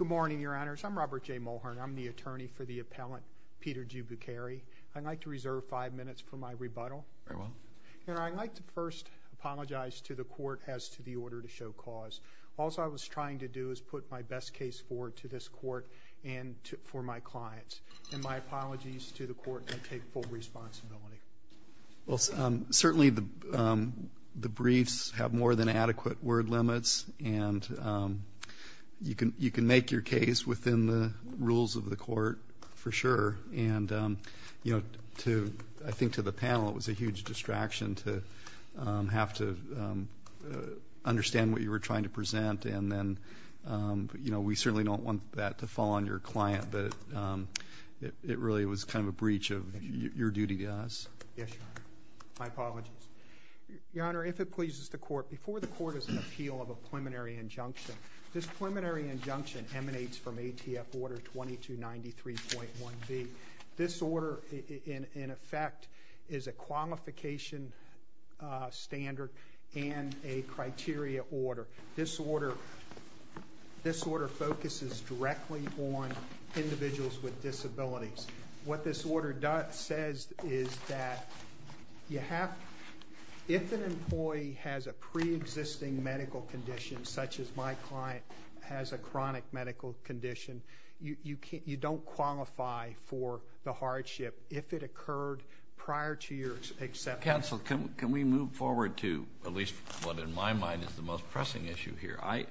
Good morning, your honors. I'm Robert J. Mulhern. I'm the attorney for the appellant Peter G. Bukiri. I'd like to reserve five minutes for my rebuttal. Very well. And I'd like to first apologize to the court as to the order to show cause. All I was trying to do is put my best case forward to this court and for my clients. And my apologies to the court and take full responsibility. Well, certainly the briefs have more than adequate word limits. And you can make your case within the rules of the court for sure. And, you know, I think to the panel it was a huge distraction to have to understand what you were trying to present. And then, you know, we certainly don't want that to fall on your client. But it really was kind of a breach of your duty to us. Yes, your honor. My apologies. Your honor, if it pleases the court, before the court is in appeal of a preliminary injunction, this preliminary injunction emanates from ATF Order 2293.1B. This order, in effect, is a qualification standard and a criteria order. This order focuses directly on individuals with disabilities. What this order says is that you have, if an employee has a pre-existing medical condition, such as my client has a chronic medical condition, you don't qualify for the hardship if it occurred prior to your acceptance. Counsel, can we move forward to at least what in my mind is the most pressing issue here? I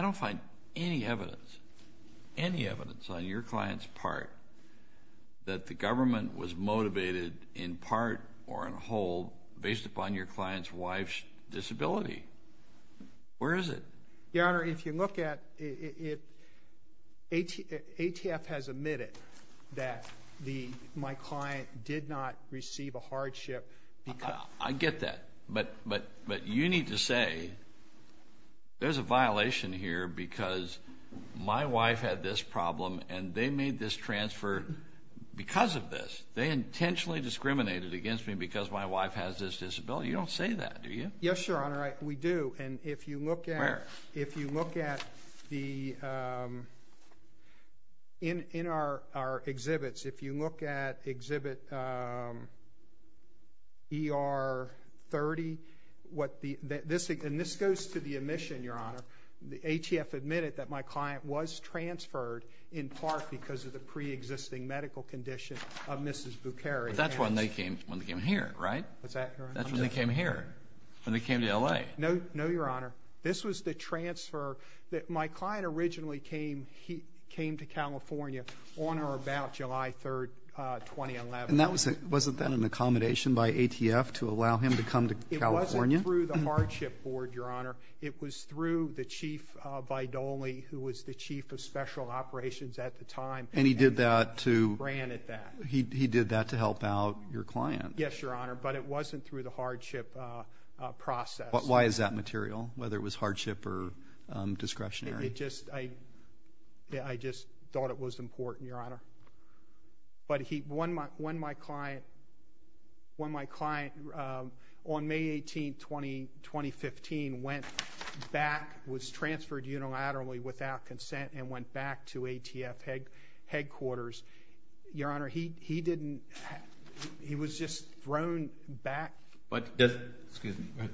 don't find any evidence, any evidence on your client's part that the government was motivated in part or in whole based upon your client's wife's disability. Where is it? Your honor, if you look at it, ATF has admitted that my client did not receive a hardship because... I get that, but you need to say there's a violation here because my wife had this problem and they made this transfer because of this. They intentionally discriminated against me because my wife has this disability. You don't say that, do you? Yes, your honor, we do. And if you look at... Where? If you look at the... In our exhibits, if you look at exhibit... ER 30, what the... And this goes to the admission, your honor. ATF admitted that my client was transferred in part because of the pre-existing medical condition of Mrs. Bukeri. That's when they came here, right? Is that correct? That's when they came here, when they came to LA. No, your honor. This was the transfer... My client originally came to California on or about July 3, 2011. And that was... Wasn't that an accommodation by ATF to allow him to come to California? It wasn't through the hardship board, your honor. It was through the chief, Vidoly, who was the chief of special operations at the time. And he did that to... He granted that. He did that to help out your client. Yes, your honor, but it wasn't through the hardship process. Why is that material, whether it was hardship or discretionary? It just... I just thought it was important, your honor. But he... When my client... When my client, on May 18, 2015, went back, was transferred unilaterally without consent and went back to ATF headquarters, your honor, he didn't... He was just thrown back. But does... Excuse me.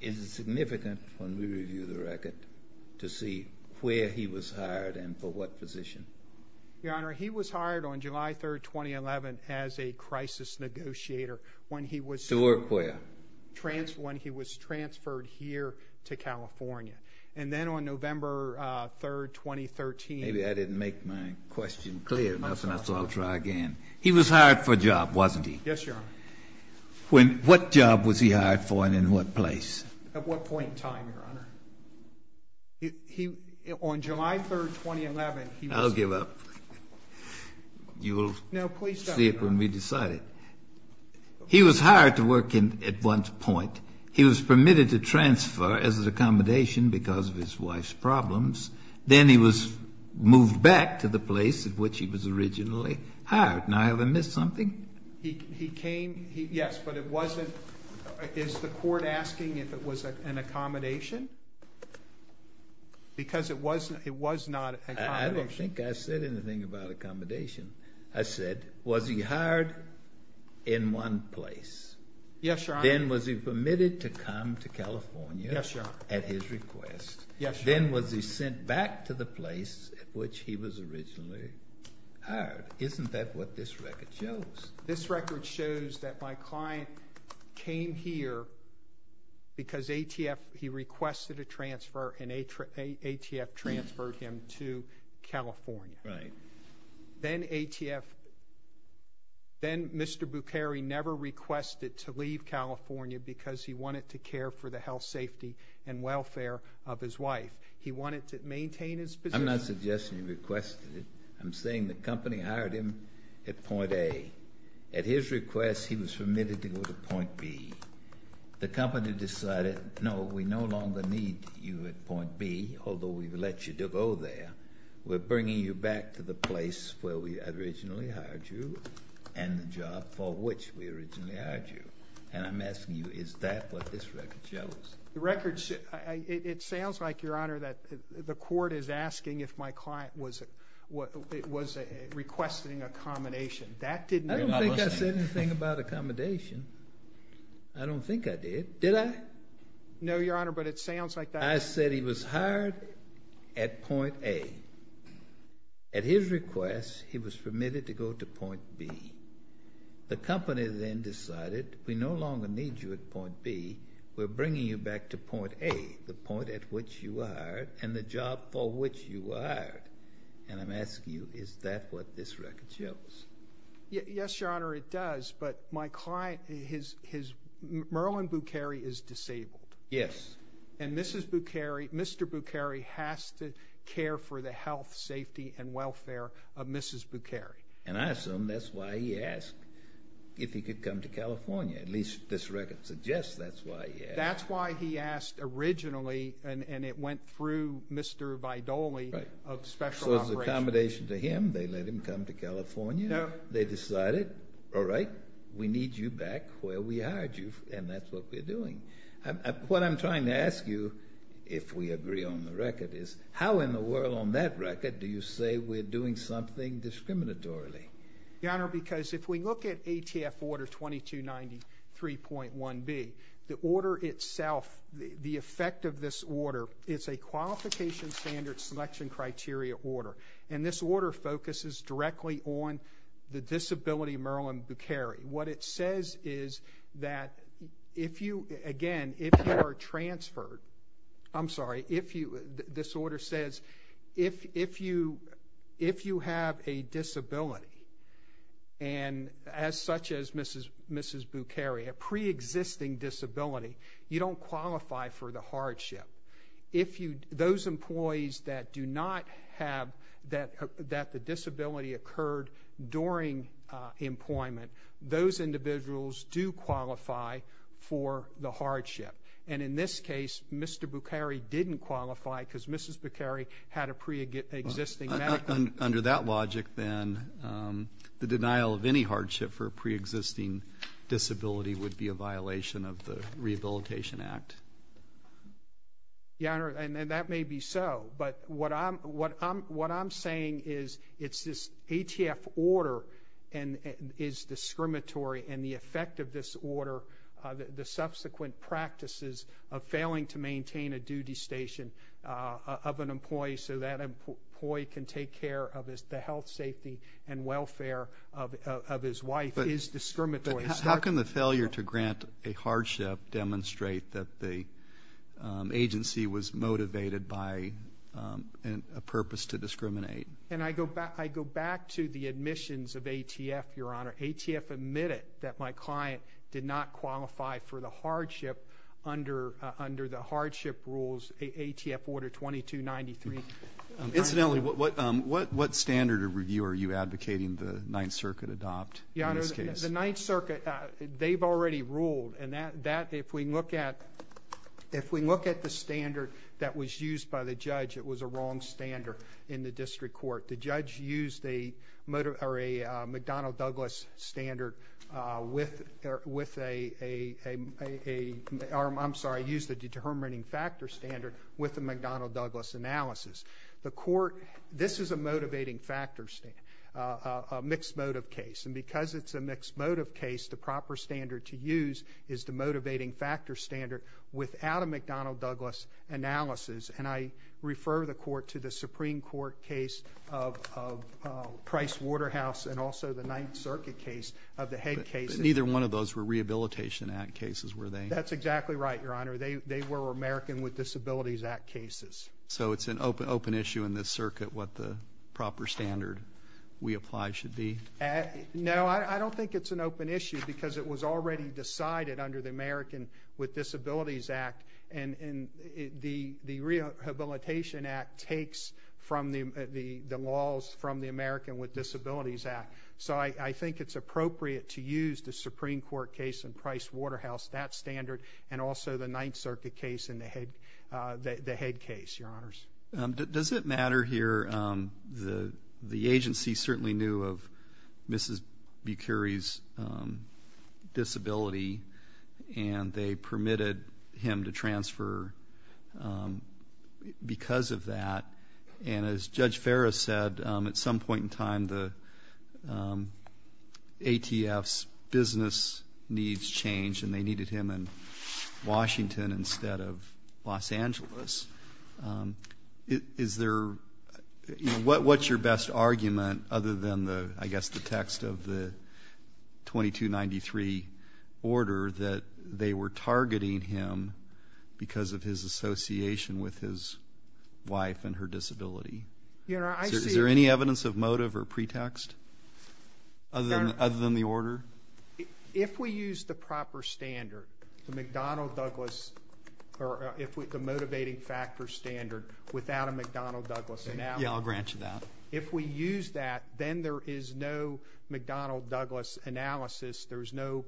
Is it significant, when we review the record, to see where he was hired and for what position? Your honor, he was hired on July 3, 2011, as a crisis negotiator when he was... To work where? When he was transferred here to California. And then on November 3, 2013... Maybe I didn't make my question clear enough, and that's why I'll try again. He was hired for a job, wasn't he? Yes, your honor. What job was he hired for and in what place? At what point in time, your honor? He... On July 3, 2011, he was... I'll give up. You will see it when we decide it. He was hired to work at one point. He was permitted to transfer as an accommodation because of his wife's problems. Then he was moved back to the place at which he was originally hired. Now, have I missed something? He came... Yes, but it wasn't... Is the court asking if it was an accommodation? Because it was not an accommodation. I don't think I said anything about accommodation. I said, was he hired in one place? Yes, your honor. Then was he permitted to come to California? At his request? Yes, your honor. Then was he sent back to the place at which he was originally hired? Isn't that what this record shows? This record shows that my client came here because ATF... He requested a transfer and ATF transferred him to California. Right. Then ATF... Then Mr. Bukhari never requested to leave California because he wanted to care for the health, safety, and welfare of his wife. He wanted to maintain his position. I'm not suggesting he requested it. I'm saying the company hired him at point A. At his request, he was permitted to go to point B. The company decided, no, we no longer need you at point B, although we've let you to go there. We're bringing you back to the place where we originally hired you and the job for which we originally hired you. And I'm asking you, is that what this record shows? It sounds like, your honor, that the court is asking if my client was requesting accommodation. That didn't... I don't think I said anything about accommodation. I don't think I did. Did I? No, your honor, but it sounds like that... I said he was hired at point A. At his request, he was permitted to go to point B. The company then decided, we no longer need you at point B. We're bringing you back to point A, the point at which you were hired and the job for which you were hired. And I'm asking you, is that what this record shows? Yes, your honor, it does. But my client, his... Merlin Bukeri is disabled. Yes. And Mrs. Bukeri, Mr. Bukeri has to care for the health, safety, and welfare of Mrs. Bukeri. And I assume that's why he asked if he could come to California. At least this record suggests that's why he asked. That's why he asked originally, and it went through Mr. Vidoli of Special Operations. So it was accommodation to him. They let him come to California. No. They decided, all right, we need you back where we hired you, and that's what we're doing. What I'm trying to ask you, if we agree on the record, is how in the world on that Mr. Vidoli? Your honor, because if we look at ATF order 2293.1B, the order itself, the effect of this order, it's a qualification standard selection criteria order. And this order focuses directly on the disability Merlin Bukeri. What it says is that if you, again, if you are transferred, I'm sorry, this order says if you have a disability, and as such as Mrs. Bukeri, a pre-existing disability, you don't qualify for the hardship. If you, those employees that do not have, that the disability occurred during employment, those individuals do qualify for the hardship. And in this case, Mr. Bukeri didn't qualify because Mrs. Bukeri had a pre-existing. Under that logic then, the denial of any hardship for a pre-existing disability would be a violation of the Rehabilitation Act. Your honor, and that may be so, but what I'm saying is it's this ATF order and is discriminatory and the effect of this order, the subsequent practices of failing to maintain a duty station of an employee so that employee can take care of the health, safety and welfare of his wife is discriminatory. How can the failure to grant a hardship demonstrate that the agency was motivated by a purpose to discriminate? And I go back to the admissions of ATF, your honor. ATF admitted that my client did not qualify for the hardship under the hardship rules, ATF order 2293. Incidentally, what standard of review are you advocating the Ninth Circuit adopt in this case? The Ninth Circuit, they've already ruled and that, if we look at the standard that was the wrong standard in the district court, the judge used a McDonald-Douglas standard with a, I'm sorry, used a determining factor standard with a McDonald-Douglas analysis. The court, this is a motivating factor, a mixed motive case and because it's a mixed motive case, the proper standard to use is the motivating factor standard without a McDonald-Douglas analysis and I refer the court to the Supreme Court case of Price Waterhouse and also the Ninth Circuit case of the head cases. Neither one of those were Rehabilitation Act cases, were they? That's exactly right, your honor. They were American with Disabilities Act cases. So it's an open issue in this circuit what the proper standard we apply should be? No, I don't think it's an open issue because it was already decided under the American with Disabilities Act and the Rehabilitation Act takes from the laws from the American with Disabilities Act. So I think it's appropriate to use the Supreme Court case in Price Waterhouse, that standard, and also the Ninth Circuit case in the head case, your honors. Does it matter here, the agency certainly knew of Mrs. Bucheri's disability and that they permitted him to transfer because of that and as Judge Ferris said, at some point in time the ATF's business needs changed and they needed him in Washington instead of Los Angeles. Is there, what's your best argument other than the, I guess, the text of the 2293 order that they were targeting him because of his association with his wife and her disability? Your honor, I see. Is there any evidence of motive or pretext other than the order? If we use the proper standard, the McDonnell-Douglas, or the motivating factor standard without a McDonnell-Douglas analysis, if we use that, then there is no McDonnell-Douglas analysis, there is no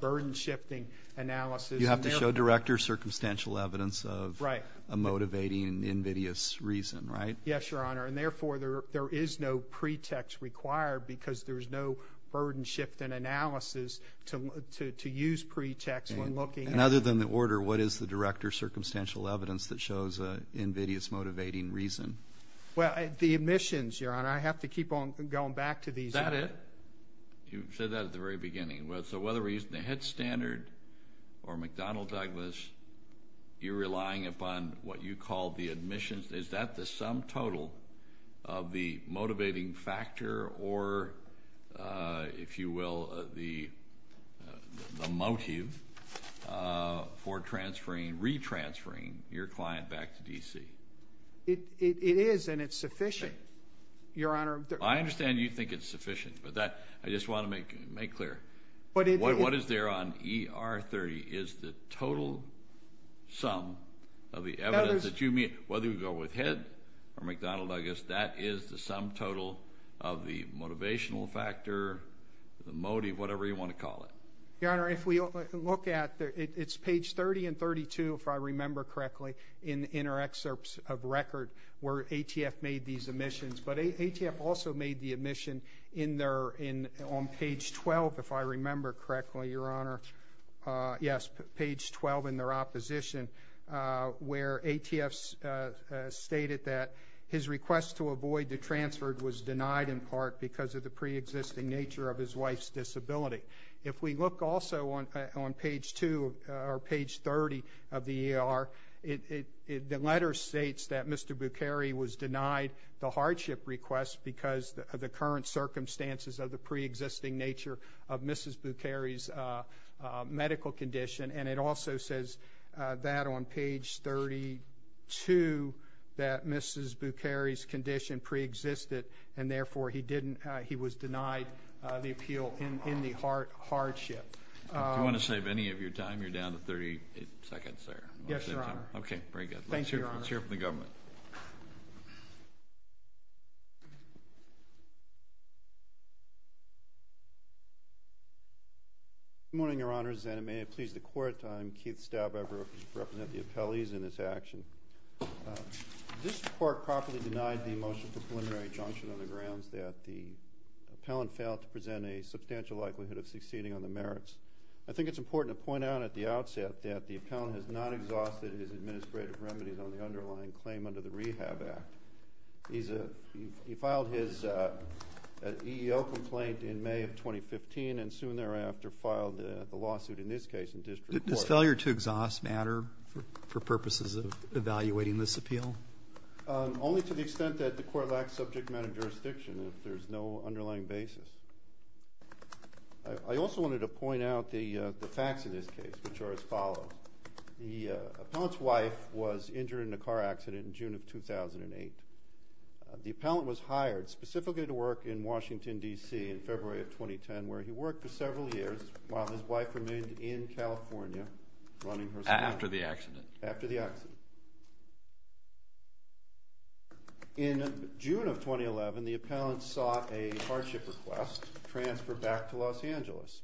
burden shifting analysis. You have to show director's circumstantial evidence of a motivating, invidious reason, right? Yes, your honor, and therefore there is no pretext required because there is no burden shift in analysis to use pretext when looking at... Other than the order, what is the director's circumstantial evidence that shows an invidious motivating reason? The admissions, your honor, I have to keep on going back to these... Is that it? You said that at the very beginning. So whether we're using the head standard or McDonnell-Douglas, you're relying upon what you call the admissions, is that the sum total of the motivating factor or, if you will, the motive for transferring, re-transferring your client back to D.C.? It is, and it's sufficient, your honor. I understand you think it's sufficient, but I just want to make clear, what is there on ER30 is the total sum of the evidence that you meet, whether you go with head or McDonnell-Douglas, that is the sum total of the motivational factor, the motive, whatever you want to call it. Your honor, if we look at, it's page 30 and 32, if I remember correctly, in our excerpts of record where ATF made these admissions, but ATF also made the admission on page 12, if I remember correctly, your honor, yes, page 12 in their opposition, where ATF stated that his request to avoid the transfer was denied in part because of the pre-existing nature of his wife's disability. If we look also on page 2 or page 30 of the ER, the letter states that Mr. Bucheri was denied the hardship request because of the current circumstances of the pre-existing nature of Mrs. Bucheri's medical condition, and it also says that on page 32 that Mrs. Bucheri was denied the appeal in the hardship. Do you want to save any of your time? You're down to 30 seconds there. Yes, your honor. Okay, very good. Let's hear from the government. Good morning, your honors, and may it please the court, I'm Keith Staub, I represent the appellees in this action. This court properly denied the motion for preliminary junction on the grounds that the appellant failed to present a substantial likelihood of succeeding on the merits. I think it's important to point out at the outset that the appellant has not exhausted his administrative remedies on the underlying claim under the Rehab Act. He filed his EEO complaint in May of 2015 and soon thereafter filed the lawsuit, in this case, in district court. Does failure to exhaust matter for purposes of evaluating this appeal? Only to the extent that the court lacks subject matter jurisdiction if there's no underlying basis. I also wanted to point out the facts of this case, which are as follows. The appellant's wife was injured in a car accident in June of 2008. The appellant was hired specifically to work in Washington, D.C. in February of 2010, where he worked for several years while his wife remained in California running her store. After the accident? After the accident. In June of 2011, the appellant sought a hardship request to transfer back to Los Angeles.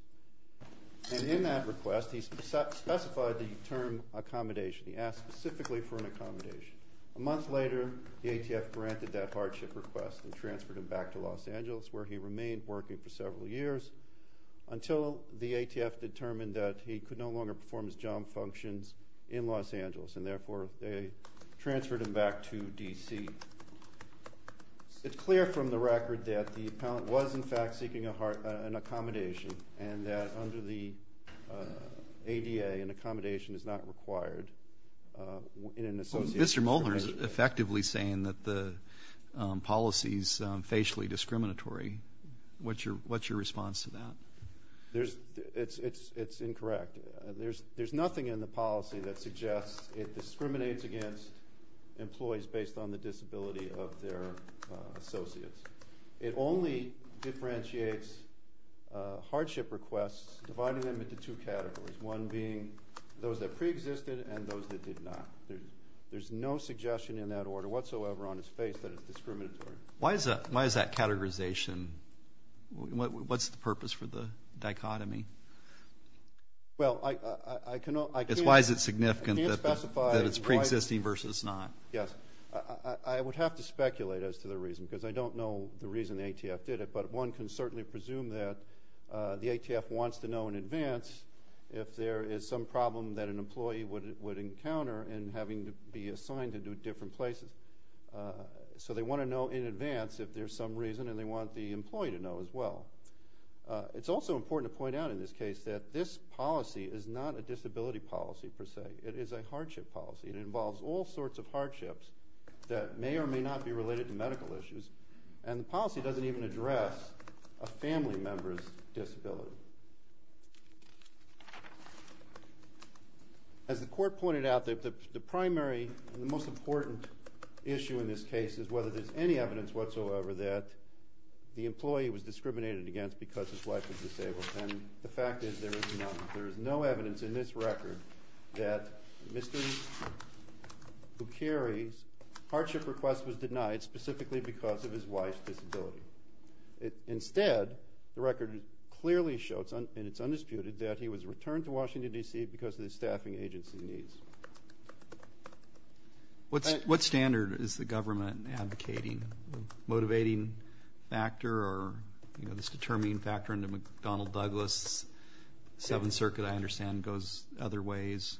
And in that request, he specified the term accommodation. He asked specifically for an accommodation. A month later, the ATF granted that hardship request and transferred him back to Los Angeles where he remained working for several years until the ATF determined that he could no longer work in Los Angeles. And therefore, they transferred him back to D.C. It's clear from the record that the appellant was, in fact, seeking an accommodation and that under the ADA, an accommodation is not required. Mr. Molner is effectively saying that the policy is facially discriminatory. What's your response to that? It's incorrect. There's nothing in the policy that suggests it discriminates against employees based on the disability of their associates. It only differentiates hardship requests, dividing them into two categories, one being those that preexisted and those that did not. There's no suggestion in that order whatsoever on its face that it's discriminatory. Why is that categorization? What's the purpose for the dichotomy? Well, I cannot Because why is it significant that it's preexisting versus not? Yes. I would have to speculate as to the reason because I don't know the reason the ATF did it. But one can certainly presume that the ATF wants to know in advance if there is some problem that an employee would encounter in having to be assigned to do different places. So they want to know in advance if there's some reason and they want the employee to know as well. It's also important to point out in this case that this policy is not a disability policy per se. It is a hardship policy. It involves all sorts of hardships that may or may not be related to medical issues and the policy doesn't even address a family member's disability. As the court pointed out, the primary and the most important issue in this case is whether there's any evidence whatsoever that the employee was discriminated against because his wife was disabled. And the fact is there is none. There is no evidence in this record that Mr. Bucheri's hardship request was denied specifically because of his wife's disability. Instead, the record clearly shows and it's undisputed that he was returned to Washington, D.C. because of the staffing agency needs. What standard is the government advocating? Motivating factor or, you know, this determining factor in the McDonnell-Douglas Seventh Circuit I understand goes other ways.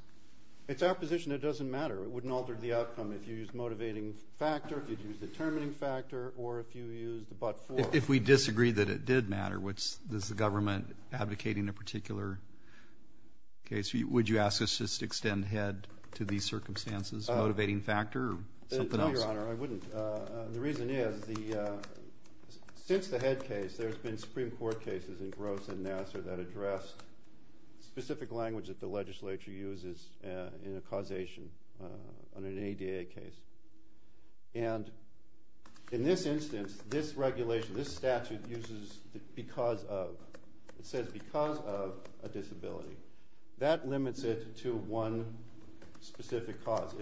It's our position it doesn't matter. It wouldn't alter the outcome if you used motivating factor, if you used determining factor, or if you used a but-for. If we disagree that it did matter, which does the government advocating a particular case, would you ask us to extend head to these circumstances? Motivating factor or something else? No, Your Honor, I wouldn't. The reason is since the head case there's been Supreme Court cases in Gross and Nassar that addressed specific language that the legislature uses in a causation on an ADA case. And in this instance, this regulation, this statute uses because of. It says because of a disability. That limits it to one specific cause.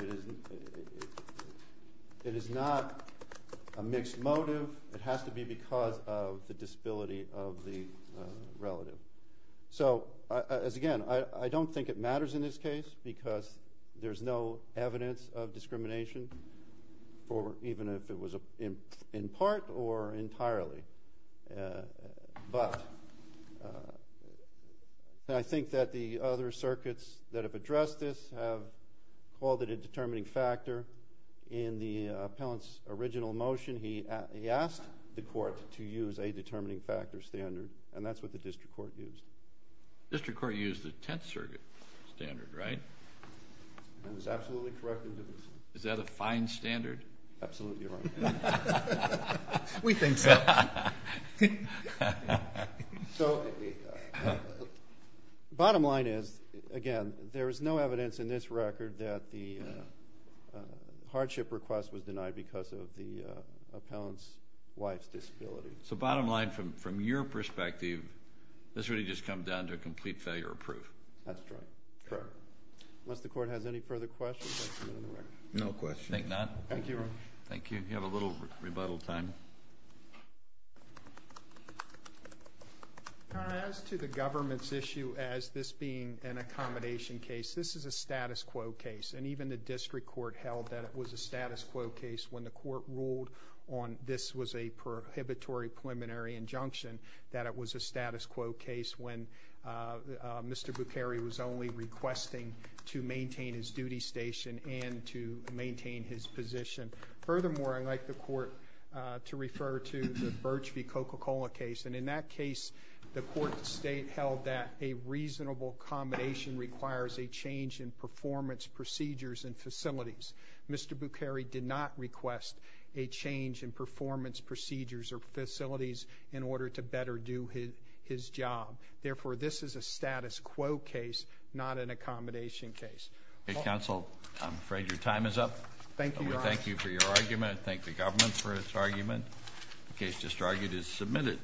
It is not a mixed motive. It has to be because of the disability of the relative. So, as again, I don't think it matters in this case because there's no evidence of discrimination for even if it was in part or entirely. But I think that the other circuits that have addressed this have called it a determining factor. In the appellant's original motion he asked the court to use a determining factor standard, and that's what the district court used. The district court used the Tenth Circuit standard, right? That is absolutely correct. Is that a fine standard? Absolutely, Your Honor. We think so. So, the bottom line is, again, there is no evidence in this record that the hardship request was denied because of the appellant's wife's disability. So, bottom line, from your perspective, this really just comes down to a complete failure of proof. That's right. Unless the court has any further questions. No questions. Thank you. Thank you, Your Honor. Thank you. You have a little rebuttal time. Your Honor, as to the government's issue as this being an accommodation case, this is a status quo case. And even the district court held that it was a status quo case when the court ruled on this was a prohibitory preliminary injunction, that it was a status quo case when Mr. Bucheri was only requesting to maintain his duty station and to maintain his position. Furthermore, I'd like the court to refer to the Birch v. Coca-Cola case. And in that case, the court held that a reasonable accommodation requires a change in performance procedures and facilities. Mr. Bucheri did not request a change in performance procedures or facilities in order to better do his job. Therefore, this is a status quo case, not an accommodation case. Counsel, I'm afraid your time is up. Thank you, Your Honor. We thank you for your argument. Thank the government for its argument. The case just argued is submitted.